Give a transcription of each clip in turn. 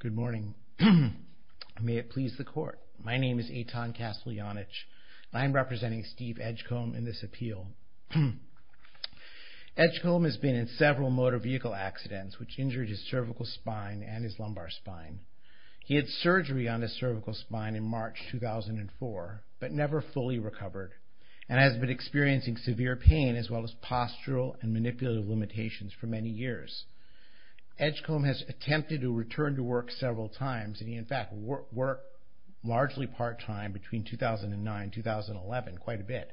Good morning. May it please the court. My name is Eitan Casteljanich. I am representing Steve Edgecomb in this appeal. Edgecomb has been in several motor vehicle accidents which injured his cervical spine and his lumbar spine. He had surgery on the cervical spine in March 2004 but never fully recovered and has been experiencing severe pain as well as postural and manipulative limitations for many years. Edgecomb has attempted to return to work several times and he in fact worked largely part-time between 2009-2011, quite a bit.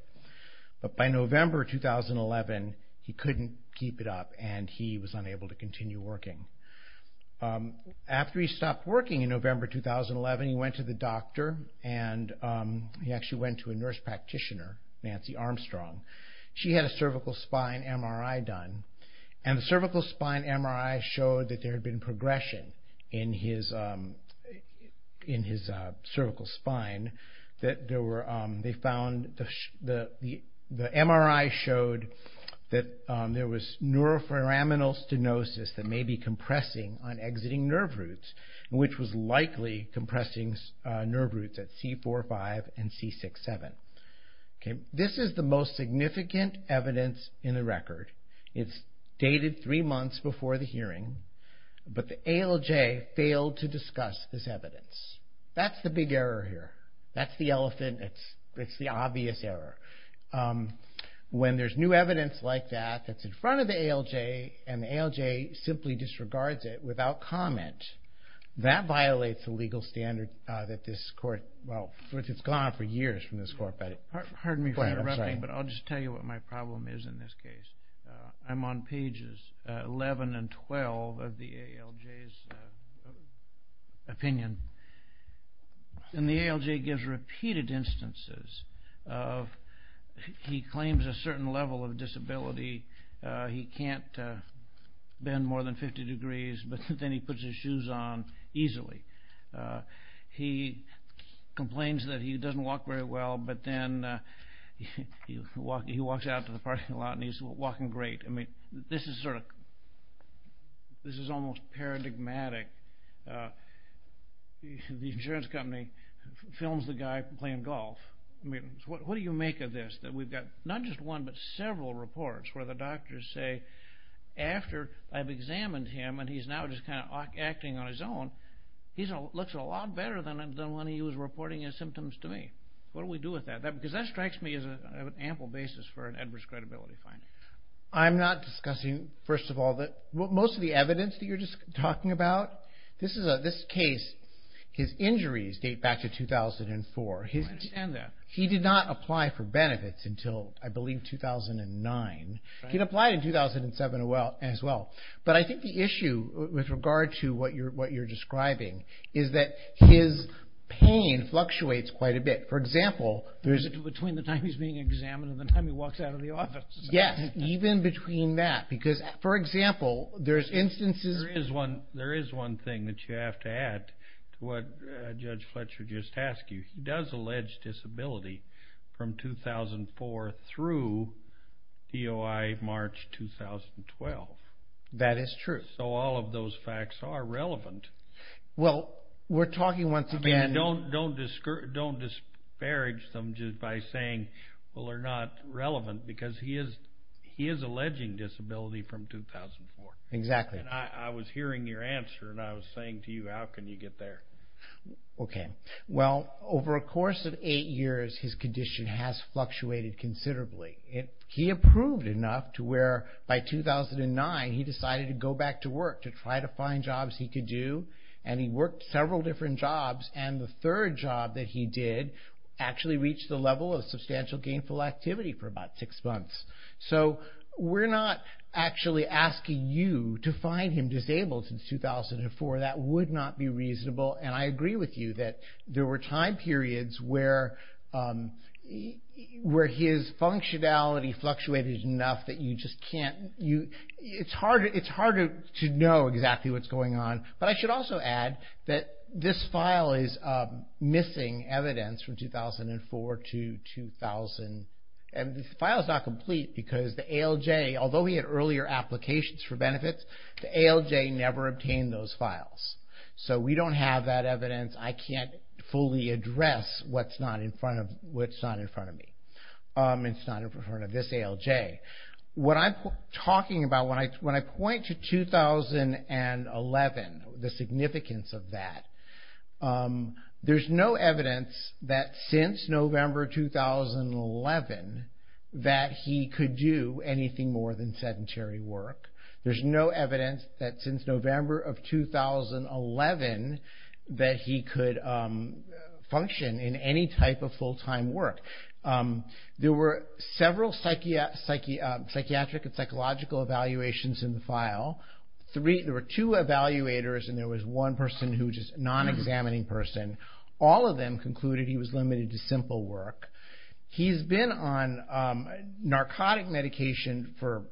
But by November 2011 he couldn't keep it up and he was unable to continue working. After he stopped working in November 2011 he went to the doctor and he actually went to a nurse practitioner, Nancy Armstrong. She had a cervical spine MRI done and the cervical spine MRI showed that there had been progression in his cervical spine. The MRI showed that there was neuroforaminal stenosis that may be compressing on exiting nerve roots, which was likely compressing nerve roots at C4-5 and C6-7. This is the most recent record. It's dated three months before the hearing but the ALJ failed to discuss this evidence. That's the big error here. That's the elephant. It's the obvious error. When there's new evidence like that, that's in front of the ALJ and the ALJ simply disregards it without comment, that violates the legal standard that this court, well, it's gone for years from this court. Pardon me for interrupting but I'll just tell you what my problem is in this case. I'm on pages 11 and 12 of the ALJ's opinion and the ALJ gives repeated instances of, he claims a certain level of disability. He can't bend more than 50 degrees but then he puts his shoes on easily. He complains that he doesn't walk very well but then he walks out to the parking lot and he's walking great. I mean, this is sort of, this is almost paradigmatic. The insurance company films the guy playing golf. I mean, what do you make of this? That we've got not just one but several reports where the doctors say, after I've examined him and he's now just kind of acting on his own, he looks a lot better than when he was reporting his symptoms to me. What do we do with that? Because that strikes me as an ample basis for an adverse credibility finding. I'm not discussing, first of all, most of the evidence that you're just talking about, this case, his injuries date back to 2004. He did not apply for benefits until, I believe, 2009. He'd applied in 2007 as well but I think the issue with regard to what you're describing is that his pain fluctuates quite a bit. For example, there's... Between the time he's being examined and the time he walks out of the office. Yes, even between that because, for example, there's instances... There is one thing that you have to add to what Judge Fletcher just asked you. He does allege disability from 2004 through EOI March 2012. That is true. So all of those facts are relevant. Well, we're talking once again... Don't disparage them just by saying, well, they're not relevant because he is alleging disability from 2004. Exactly. And I was hearing your answer and I was saying to you, how can you get there? Okay. Well, over a course of eight years, his condition has fluctuated considerably. He approved enough to where by 2009, he decided to go back to work to try to find jobs he could do. And he worked several different jobs and the third job that he did actually reached the level of substantial gainful activity for about six months. So we're not actually asking you to find him disabled since 2004. That would not be reasonable. And I agree with you that there were time periods where his functionality fluctuated enough that you just can't... It's harder to know exactly what's going on. But I should also add that this file is missing evidence from 2004 to 2000. And this file is not complete because the ALJ, although we had earlier applications for benefits, the ALJ never obtained those files. So we don't have that evidence. I can't fully address what's not in front of me. It's not in front of this ALJ. What I'm talking about, when I point to 2011, the significance of that, there's no evidence that since November 2011 that he could do anything more than sedentary work. There's no evidence that since November of 2011 that he could function in any type of full-time work. There were several psychiatric and psychological evaluations in the file. There were two evaluators and there was one person who was just a non-examining person. All of them concluded he was limited to simple work. He's been on narcotic medication for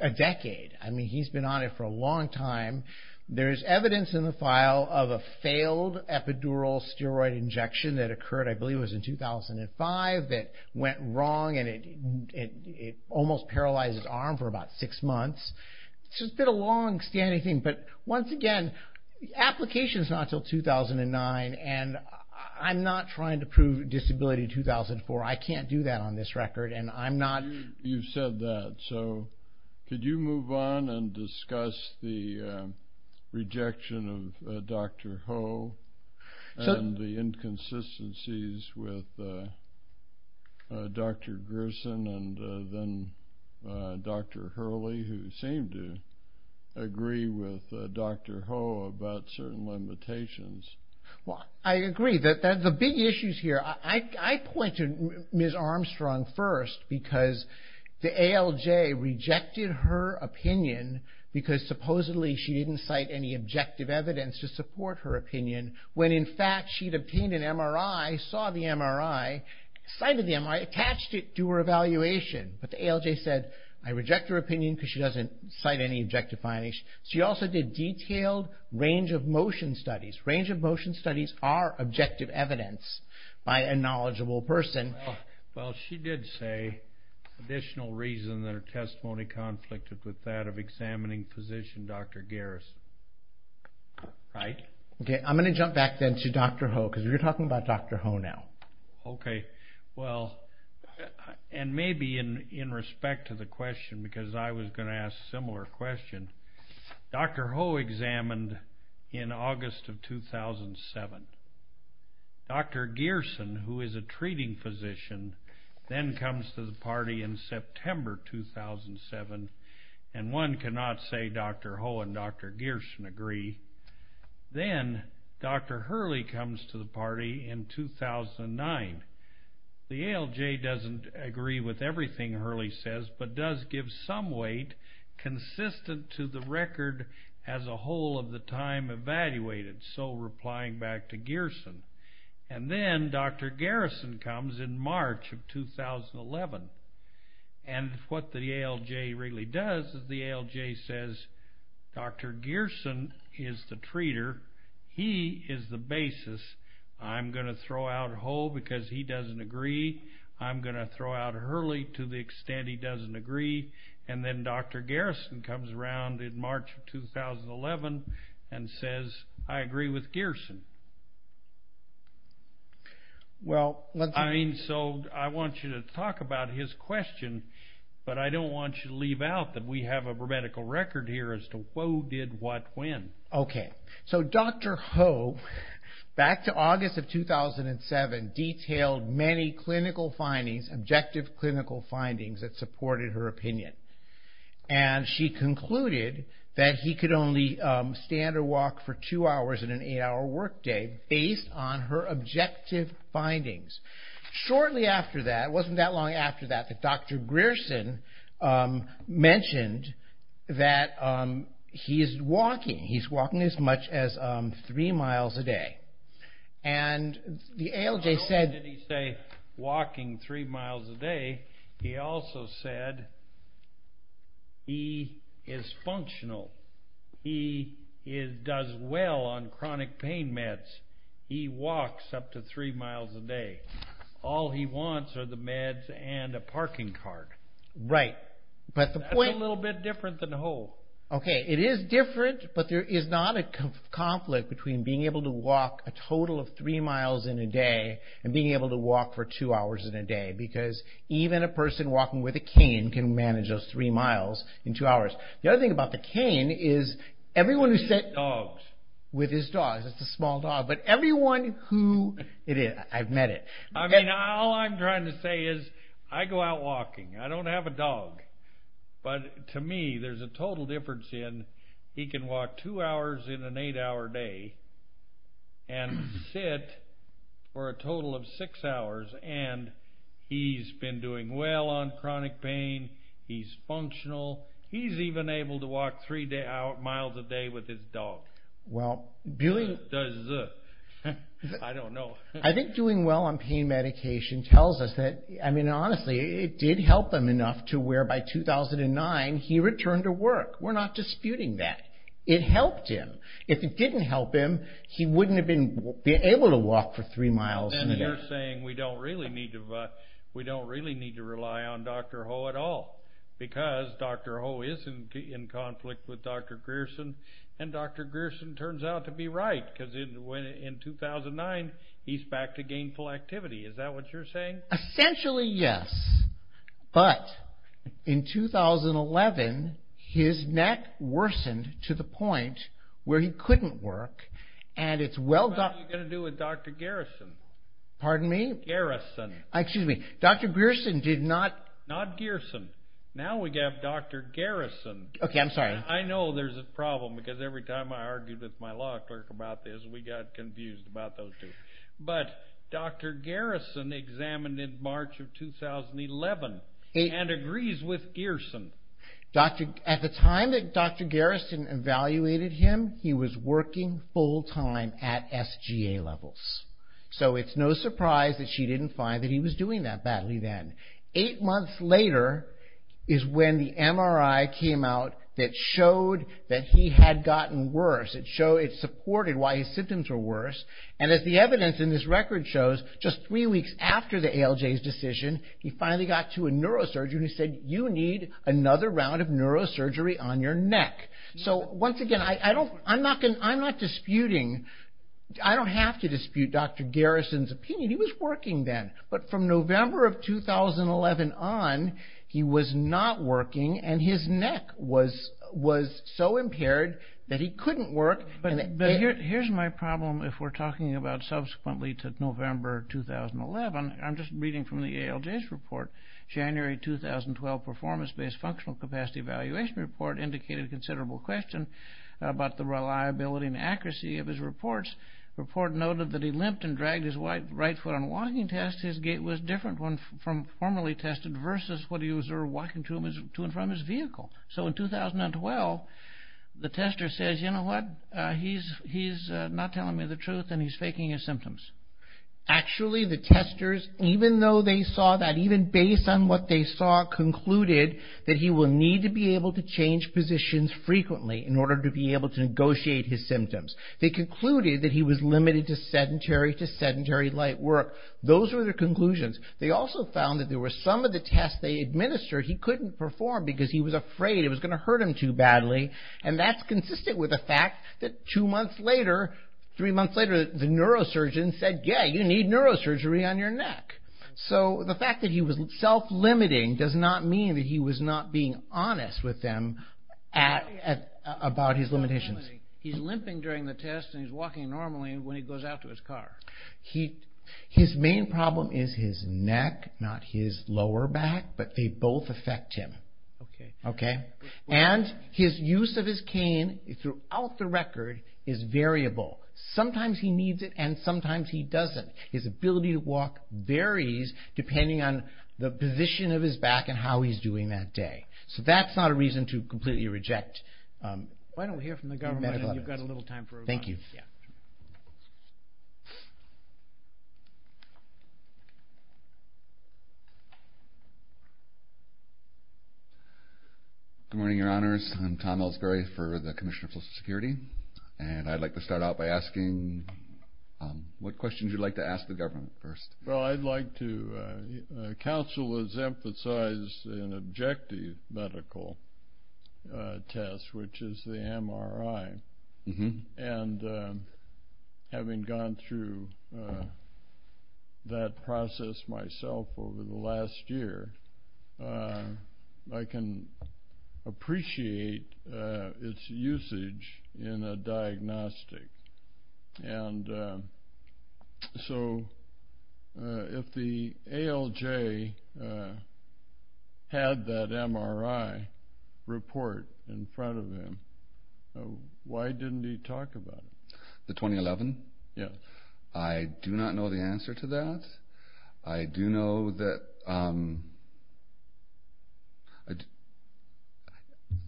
a decade. I mean, he's been on it for a long time. There's evidence in the file of a failed epidural steroid injection that occurred, I believe it was in 2005, that went wrong and it almost paralyzed his arm for about six months. So it's been a long-standing thing. But once again, application's not until 2009 and I'm not trying to prove disability 2004. I can't do that on this record and I'm not... You've said that. So could you move on and discuss the rejection of Dr. Ho and the inconsistencies with Dr. Grissom and then Dr. Hurley, who seemed to agree with Dr. Ho about certain limitations? Well, I agree. The big issues here, I point to Ms. Armstrong first because the ALJ rejected her opinion because supposedly she didn't cite any objective evidence to support her opinion when in fact she'd obtained an MRI, saw the MRI, cited the MRI, attached it to her evaluation. But the ALJ said, I reject her opinion because she doesn't cite any objective findings. She also did detailed range of motion studies. Range of motion studies are objective evidence by a knowledgeable person. Well, she did say additional reason that her testimony conflicted with that of Dr. Hurley. Right. Okay. I'm going to jump back then to Dr. Ho because you're talking about Dr. Ho now. Okay. Well, and maybe in respect to the question because I was going to ask a similar question, Dr. Ho examined in August of 2007. Dr. Gierssen, who is a treating physician, then comes to the party in September 2007 and one cannot say Dr. Ho and Dr. Gierssen agree. Then Dr. Hurley comes to the party in 2009. The ALJ doesn't agree with everything Hurley says but does give some weight consistent to the record as a whole of the time evaluated, so replying back to Gierssen. And then Dr. Garrison comes in March of 2011. And what the ALJ really does is the ALJ says, Dr. Gierssen is the treater. He is the basis. I'm going to throw out Ho because he doesn't agree. I'm going to throw out Hurley to the extent he doesn't agree. And then Dr. Garrison comes around in March of 2011 and says, I agree with Gierssen. I want you to talk about his question, but I don't want you to leave out that we have a grammatical record here as to Ho did what when. OK. So Dr. Ho, back to August of 2007, detailed many clinical findings, objective clinical findings that supported her opinion. And she concluded that he could only stand or walk for two hours in an eight hour workout. And she concluded that he could only stand or walk for two hours in an eight hour workout based on her objective findings. Shortly after that, it wasn't that long after that, that Dr. Gierssen mentioned that he is walking. He's walking as much as three miles a day. And the ALJ said. And not only did he say walking three miles a day, he also said he is functional. He does well on chronic pain meds. He walks up to three miles a day. All he wants are the meds and a parking card. Right. But the point. That's a little bit different than Ho. OK. It is different, but there is not a conflict between being able to walk a total of three miles in a day and being able to walk for two hours in a day. Because even a person walking with a cane can manage those three miles in two hours. The other thing about the cane is everyone who sits with his dogs. It's a small dog. But everyone who it is, I've met it. I mean, all I'm trying to say is I go out walking. I don't have a dog. But to me, there's a total difference in he can walk two hours in an eight hour day and sit for a total of six hours. And he's been doing well on chronic pain. He's functional. He's even able to walk three miles a day with his dog. Well, I don't know. I think doing well on pain medication tells us that, I mean, honestly, it did help him enough to where by 2009, he returned to work. We're not disputing that. It helped him. If it didn't help him, he wouldn't have been able to walk for three miles a day. And you're saying we don't really need to rely on Dr. Ho at all. Because Dr. Ho is in conflict with Dr. Grierson. And Dr. Grierson turns out to be right. Because in 2009, he's back to gainful activity. Is that what you're saying? Essentially, yes. But in 2011, his neck worsened to the point where he couldn't work. And it's well- What are you going to do with Dr. Garrison? Pardon me? Garrison. Excuse me. Dr. Grierson did not- Not Grierson. Now we have Dr. Garrison. Okay, I'm sorry. I know there's a problem because every time I argue with my law clerk about this, we got confused about those two. But Dr. Garrison examined in March of 2011 and agrees with Grierson. At the time that Dr. Garrison evaluated him, he was working full-time at SGA levels. So it's no surprise that she didn't find that he was doing that badly then. Eight months later is when the MRI came out that showed that he had gotten worse. It supported why his symptoms were worse. And as the evidence in this record shows, just three weeks after the ALJ's decision, he finally got to a neurosurgery and he said, you need another round of neurosurgery on your neck. So once again, I'm not disputing, I don't have to dispute Dr. Garrison's opinion. He was working then. But from November of 2011 on, he was not working. And his neck was so impaired that he couldn't work. But here's my problem if we're talking about subsequently to November 2011. I'm just reading from the ALJ's report. January 2012 performance-based functional capacity evaluation report indicated a considerable question about the reliability and accuracy of his reports. Report noted that he limped and dragged his right foot on a walking test. His gait was different from formerly tested versus what he was walking to and from his vehicle. So in 2012, the tester says, you know what, he's not telling me the truth and he's faking his symptoms. Actually, the testers, even though they saw that, even based on what they saw, concluded that he will need to be able to change positions frequently in order to be able to negotiate his symptoms. They concluded that he was limited to sedentary to sedentary light work. Those were their conclusions. They also found that there were some of the tests they administered, he couldn't perform because he was afraid it was going to hurt him too badly. And that's consistent with the fact that two months later, three months later, the neurosurgeon said, yeah, you need neurosurgery on your neck. So the fact that he was self-limiting does not mean that he was not being honest with them about his limitations. He's limping during the test and he's walking normally when he goes out to his car. His main problem is his neck, not his lower back, but they both affect him. Okay? And his use of his cane throughout the record is variable. Sometimes he needs it and sometimes he doesn't. His ability to walk varies depending on the position of his back and how he's doing that day. Why don't we hear from the government and you've got a little time for a rebuttal. Thank you. Good morning, your honors. I'm Tom Elsberry for the Commissioner of Social Security. And I'd like to start out by asking what questions you'd like to ask the government first. Well, I'd like to, counsel has emphasized an objective medical test, which is the MRI and having gone through that process myself over the last year, I can appreciate its usage in a diagnostic. And so if the ALJ had that MRI report in front of him, why didn't he talk about it? The 2011? Yes. I do not know the answer to that. I do know that, I'm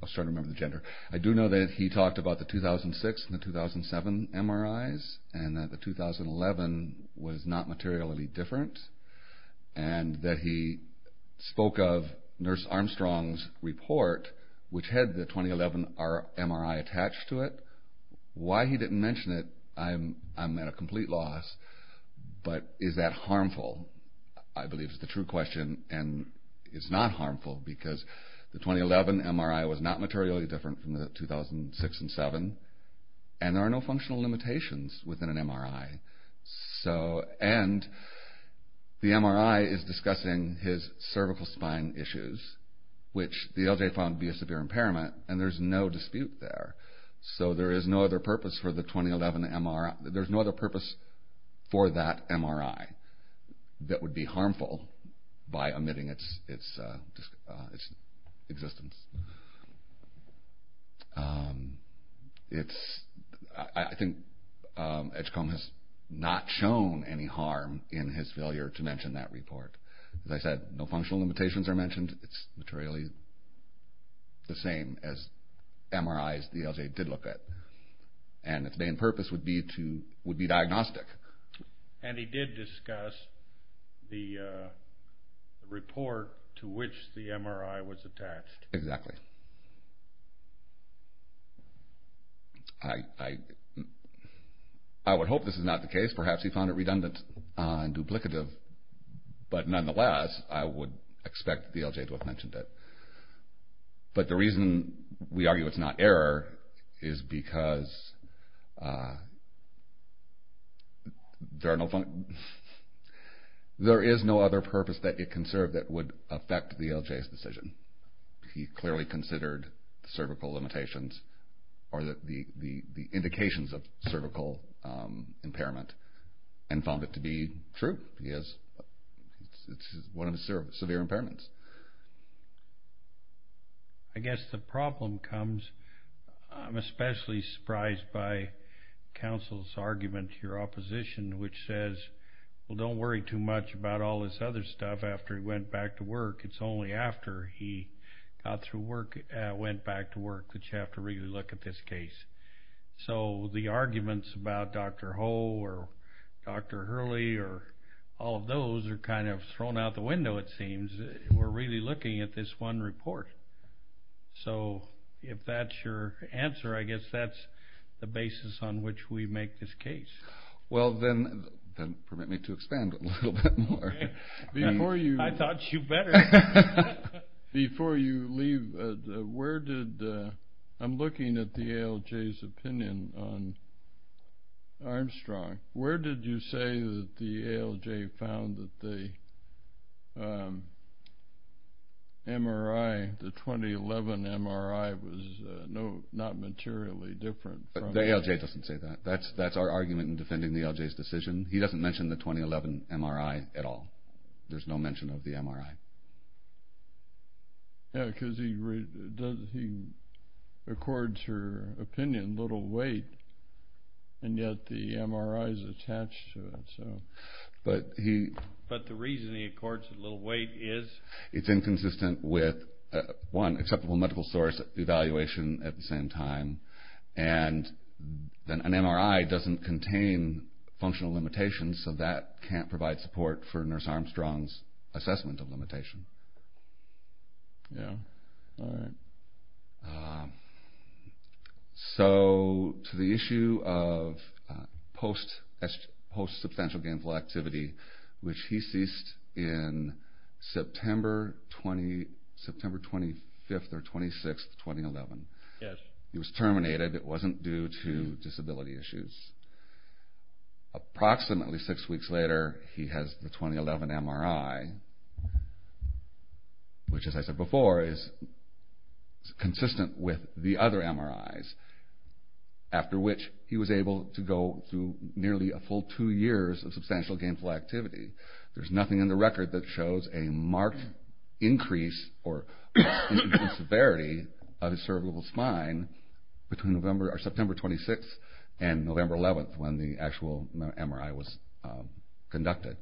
starting to remember the gender. I do know that he talked about the 2006 and the 2007 MRIs and that the 2011 was not materially different. And that he spoke of Nurse Armstrong's report, which had the 2011 MRI attached to it. Why he didn't mention it, I'm at a complete loss. But is that harmful? I believe is the true question and it's not harmful because the 2011 MRI was not materially different from the 2006 and 2007. And there are no functional limitations within an MRI. So, and the MRI is discussing his cervical spine issues, which the ALJ found to be a severe impairment and there's no dispute there. So there is no other purpose for the 2011 MRI, there's no other purpose for that MRI that would be harmful by omitting its existence. It's, I think Edgecombe has not shown any harm in his failure to mention that report. As I said, no functional limitations are mentioned, it's materially the same as MRIs the ALJ did look at. And its main purpose would be to, would be diagnostic. And he did discuss the report to which the MRI was attached. Exactly. I would hope this is not the case, perhaps he found it redundant and duplicative. But nonetheless, I would expect the ALJ to have mentioned it. But the reason we argue it's not error is because there are no, there is no other purpose that it conserved that would affect the ALJ's decision. He clearly considered cervical limitations or the indications of cervical impairment and found it to be true. Yes, it's one of the severe impairments. I guess the problem comes, I'm especially surprised by counsel's argument to your opposition which says, well don't worry too much about all this other stuff after he went back to work. It's only after he got through work, went back to work that you have to really look at this case. So the arguments about Dr. Ho or Dr. Hurley or all of those are kind of thrown out the window it seems. We're really looking at this one report. So if that's your answer, I guess that's the basis on which we make this case. Well then, permit me to expand a little bit more. Before you. I thought you better. Before you leave, where did, I'm looking at the ALJ's opinion on Armstrong. Where did you say that the ALJ found that the MRI, the 2011 MRI was not materially different? The ALJ doesn't say that. That's our argument in defending the ALJ's decision. He doesn't mention the 2011 MRI at all. There's no mention of the MRI. Yeah, because he accords her opinion, little weight, and yet the MRI is attached to it, so. But he. But the reason he accords it little weight is. It's inconsistent with one, acceptable medical source evaluation at the same time. And an MRI doesn't contain functional limitations, so that can't provide support for Nurse Armstrong's assessment of limitation. Yeah, all right. So to the issue of post substantial gainful activity, which he ceased in September 25th or 26th 2011. Yes. He was terminated. It wasn't due to disability issues. Approximately six weeks later, he has the 2011 MRI, which as I said before is consistent with the other MRIs, after which he was able to go through nearly a full two years of substantial gainful activity. There's nothing in the record that shows a marked increase or severity of his cervical spine between September 26th and November 11th when the actual MRI was conducted.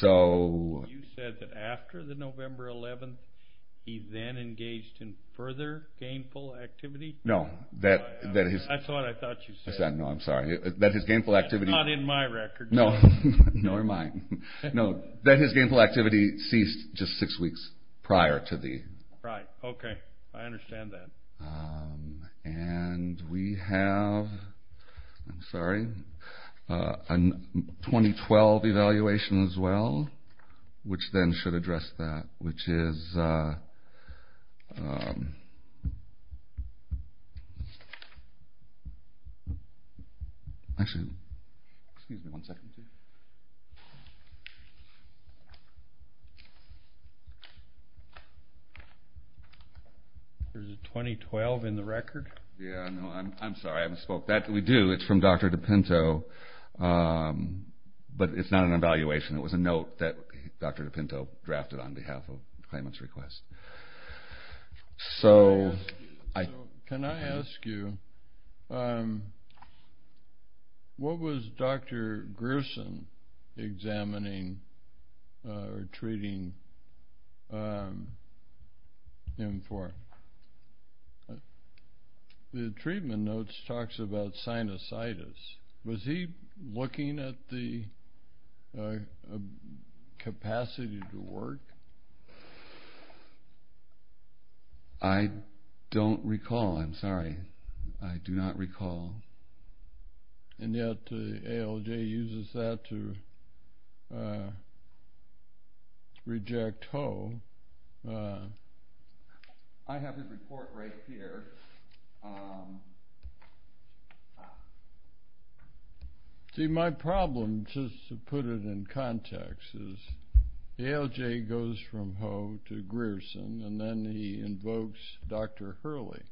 So. You said that after the November 11th, he then engaged in further gainful activity? No, that his. That's what I thought you said. I said, no, I'm sorry, that his gainful activity. That's not in my record. No, nor mine. No, that his gainful activity ceased just six weeks prior to the. Right. Okay. I understand that. And we have, I'm sorry, a 2012 evaluation as well, which then should address that, which is. Actually, excuse me one second here. There's a 2012 in the record? Yeah, no, I'm sorry, I haven't spoke. That, we do, it's from Dr. DePinto, but it's not an evaluation. It was a note that Dr. DePinto drafted on behalf of claimant's request. So. Can I ask you, what was Dr. Grusin examining or treating him for? The treatment notes talks about sinusitis. Was he looking at the capacity to work? I don't recall. I'm sorry. I do not recall. And yet, ALJ uses that to reject Ho. I have his report right here. See, my problem, just to put it in context, is ALJ goes from Ho to Grusin, and then he invokes Dr. Hurley.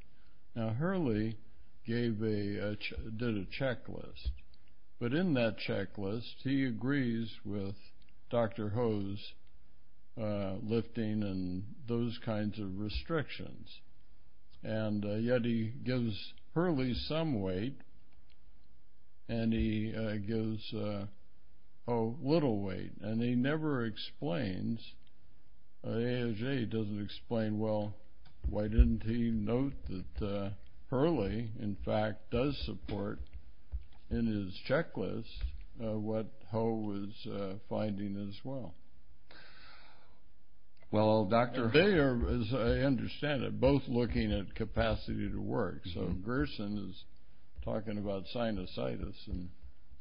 Now, Hurley gave a, did a checklist. But in that checklist, he agrees with Dr. Ho's lifting and those kinds of restrictions. And yet, he gives Hurley some weight, and he gives Ho little weight. And he never explains, ALJ doesn't explain, well, why didn't he note that Hurley, in fact, does support in his checklist what Ho was finding as well. Well, Dr. They are, as I understand it, both looking at capacity to work. So, Grusin is talking about sinusitis and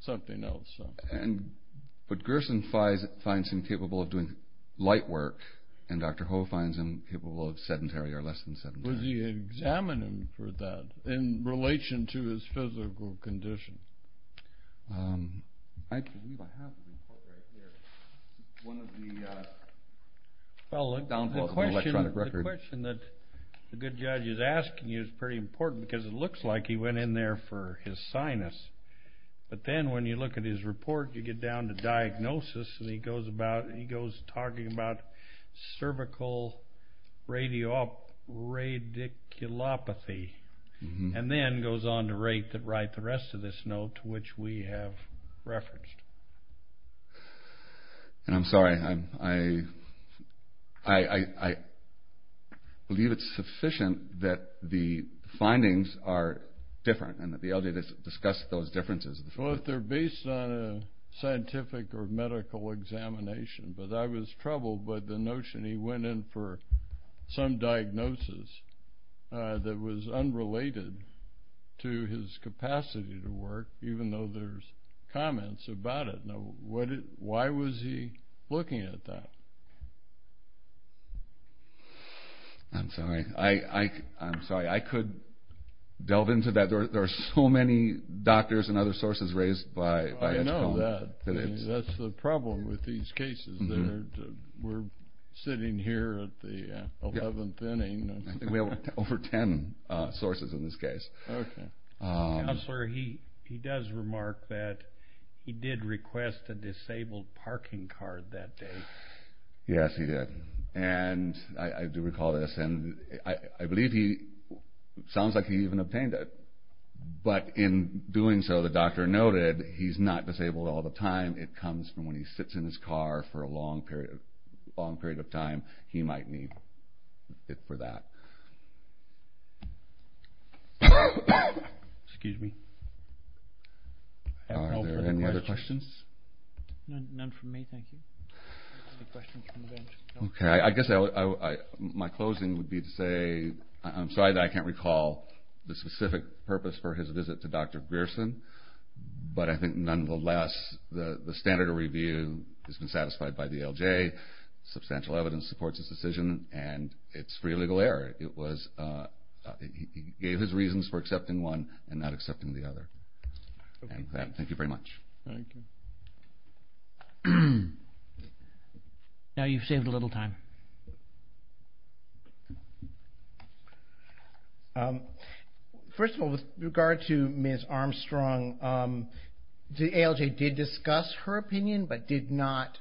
something else. And, but Grusin finds him capable of doing light work, and Dr. Ho finds him capable of sedentary or less than sedentary. Was he examining him for that in relation to his physical condition? I believe I have the report right here. One of the downvotes of the electronic record. Well, the question that the good judge is asking you is pretty important, because it looks like he went in there for his sinus. But then, when you look at his report, you get down to diagnosis, and he goes about, he goes talking about cervical radiculopathy. And then goes on to write the rest of this note, which we have referenced. And I'm sorry, I believe it's sufficient that the findings are different, and that the ALJ discussed those differences. Well, they're based on a scientific or medical examination. But I was troubled by the notion he went in for some diagnosis that was unrelated to his capacity to work, even though there's comments about it. Now, why was he looking at that? I'm sorry. I'm sorry. I could delve into that. There are so many doctors and other sources raised by Edgecone. I know that. That's the problem with these cases. We're sitting here at the 11th inning. I think we have over ten sources in this case. Okay. Counselor, he does remark that he did request a disabled parking card that day. Yes, he did. And I do recall this. And I believe he sounds like he even obtained it. But in doing so, the doctor noted he's not disabled all the time. It comes from when he sits in his car for a long period of time. He might need it for that. Excuse me. Are there any other questions? None from me, thank you. Any questions from the bench? Okay. I guess my closing would be to say I'm sorry that I can't recall the specific purpose for his visit to Dr. Pearson. But I think nonetheless, the standard of review has been satisfied by the LJ. Substantial evidence supports his decision. And it's free of legal error. He gave his reasons for accepting one and not accepting the other. Thank you very much. Thank you. Now you've saved a little time. First of all, with regard to Ms. Armstrong, the ALJ did discuss her opinion but did not,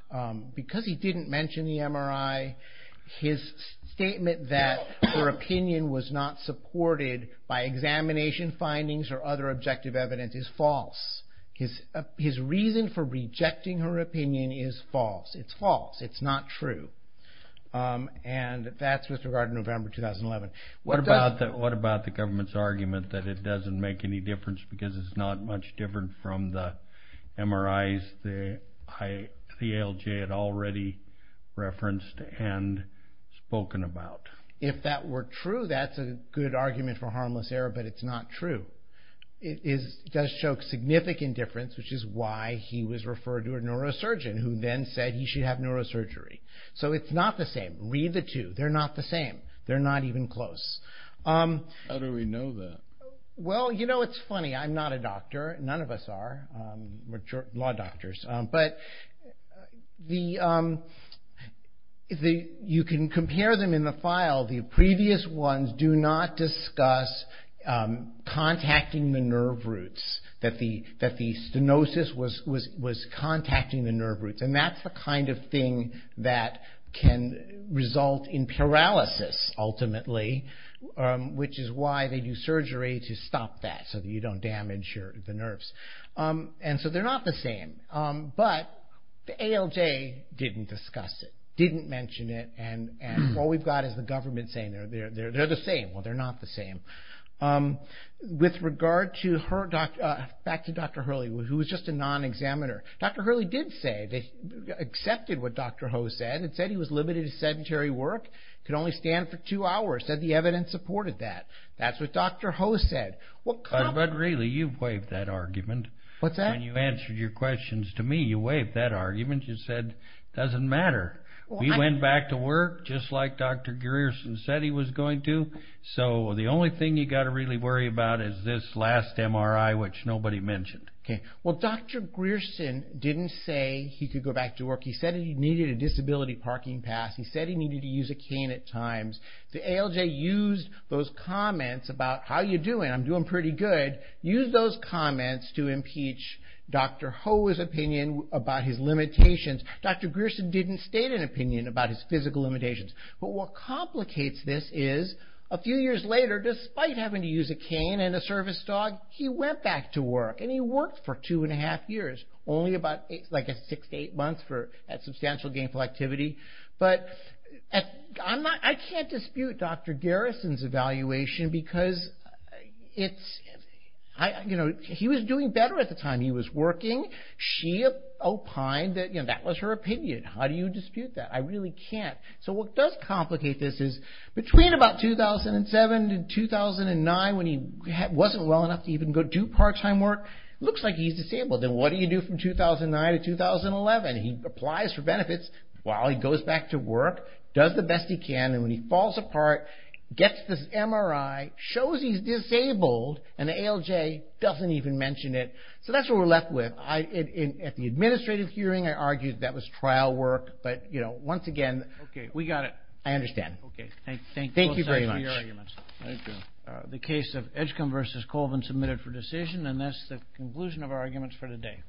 because he didn't mention the MRI, his statement that her opinion was not supported by examination findings or other objective evidence is false. His reason for rejecting her opinion is false. It's false. It's not true. And that's with regard to November 2011. What about the government's argument that it doesn't make any difference because it's not much different from the MRIs the ALJ had already referenced and spoken about? If that were true, that's a good argument for harmless error. But it's not true. It does show significant difference, which is why he was referred to a neurosurgeon, who then said he should have neurosurgery. So it's not the same. Read the two. They're not the same. They're not even close. How do we know that? Well, you know, it's funny. I'm not a doctor. None of us are. We're law doctors. But you can compare them in the file. The previous ones do not discuss contacting the nerve roots, that the stenosis was contacting the nerve roots. And that's the kind of thing that can result in paralysis, ultimately, which is why they do surgery to stop that, so that you don't damage the nerves. And so they're not the same. But the ALJ didn't discuss it, didn't mention it. And all we've got is the government saying they're the same. Well, they're not the same. Back to Dr. Hurley, who was just a non-examiner. Dr. Hurley did say that he accepted what Dr. Ho said and said he was limited to sedentary work, could only stand for two hours, said the evidence supported that. That's what Dr. Ho said. But really, you've waived that argument. What's that? When you answered your questions to me, you waived that argument. You said it doesn't matter. We went back to work, just like Dr. Gerrierson said he was going to. So the only thing you've got to really worry about is this last MRI, which nobody mentioned. Okay. Well, Dr. Gerrierson didn't say he could go back to work. He said he needed a disability parking pass. He said he needed to use a cane at times. The ALJ used those comments about how you're doing, I'm doing pretty good, used those comments to impeach Dr. Ho's opinion about his limitations. Dr. Gerrierson didn't state an opinion about his physical limitations. But what complicates this is a few years later, despite having to use a cane and a service dog, he went back to work, and he worked for two and a half years, only about six to eight months for substantial gainful activity. But I can't dispute Dr. Gerrierson's evaluation because he was doing better at the time he was working. She opined that that was her opinion. How do you dispute that? I really can't. So what does complicate this is between about 2007 and 2009, when he wasn't well enough to even go do part-time work, it looks like he's disabled. And what do you do from 2009 to 2011? He applies for benefits while he goes back to work, does the best he can, and when he falls apart, gets this MRI, shows he's disabled, and the ALJ doesn't even mention it. So that's what we're left with. At the administrative hearing, I argued that was trial work. But, you know, once again, I understand. Okay. Thank you very much. Thank you. The case of Edgecombe v. Colvin submitted for decision, and that's the conclusion of our arguments for today.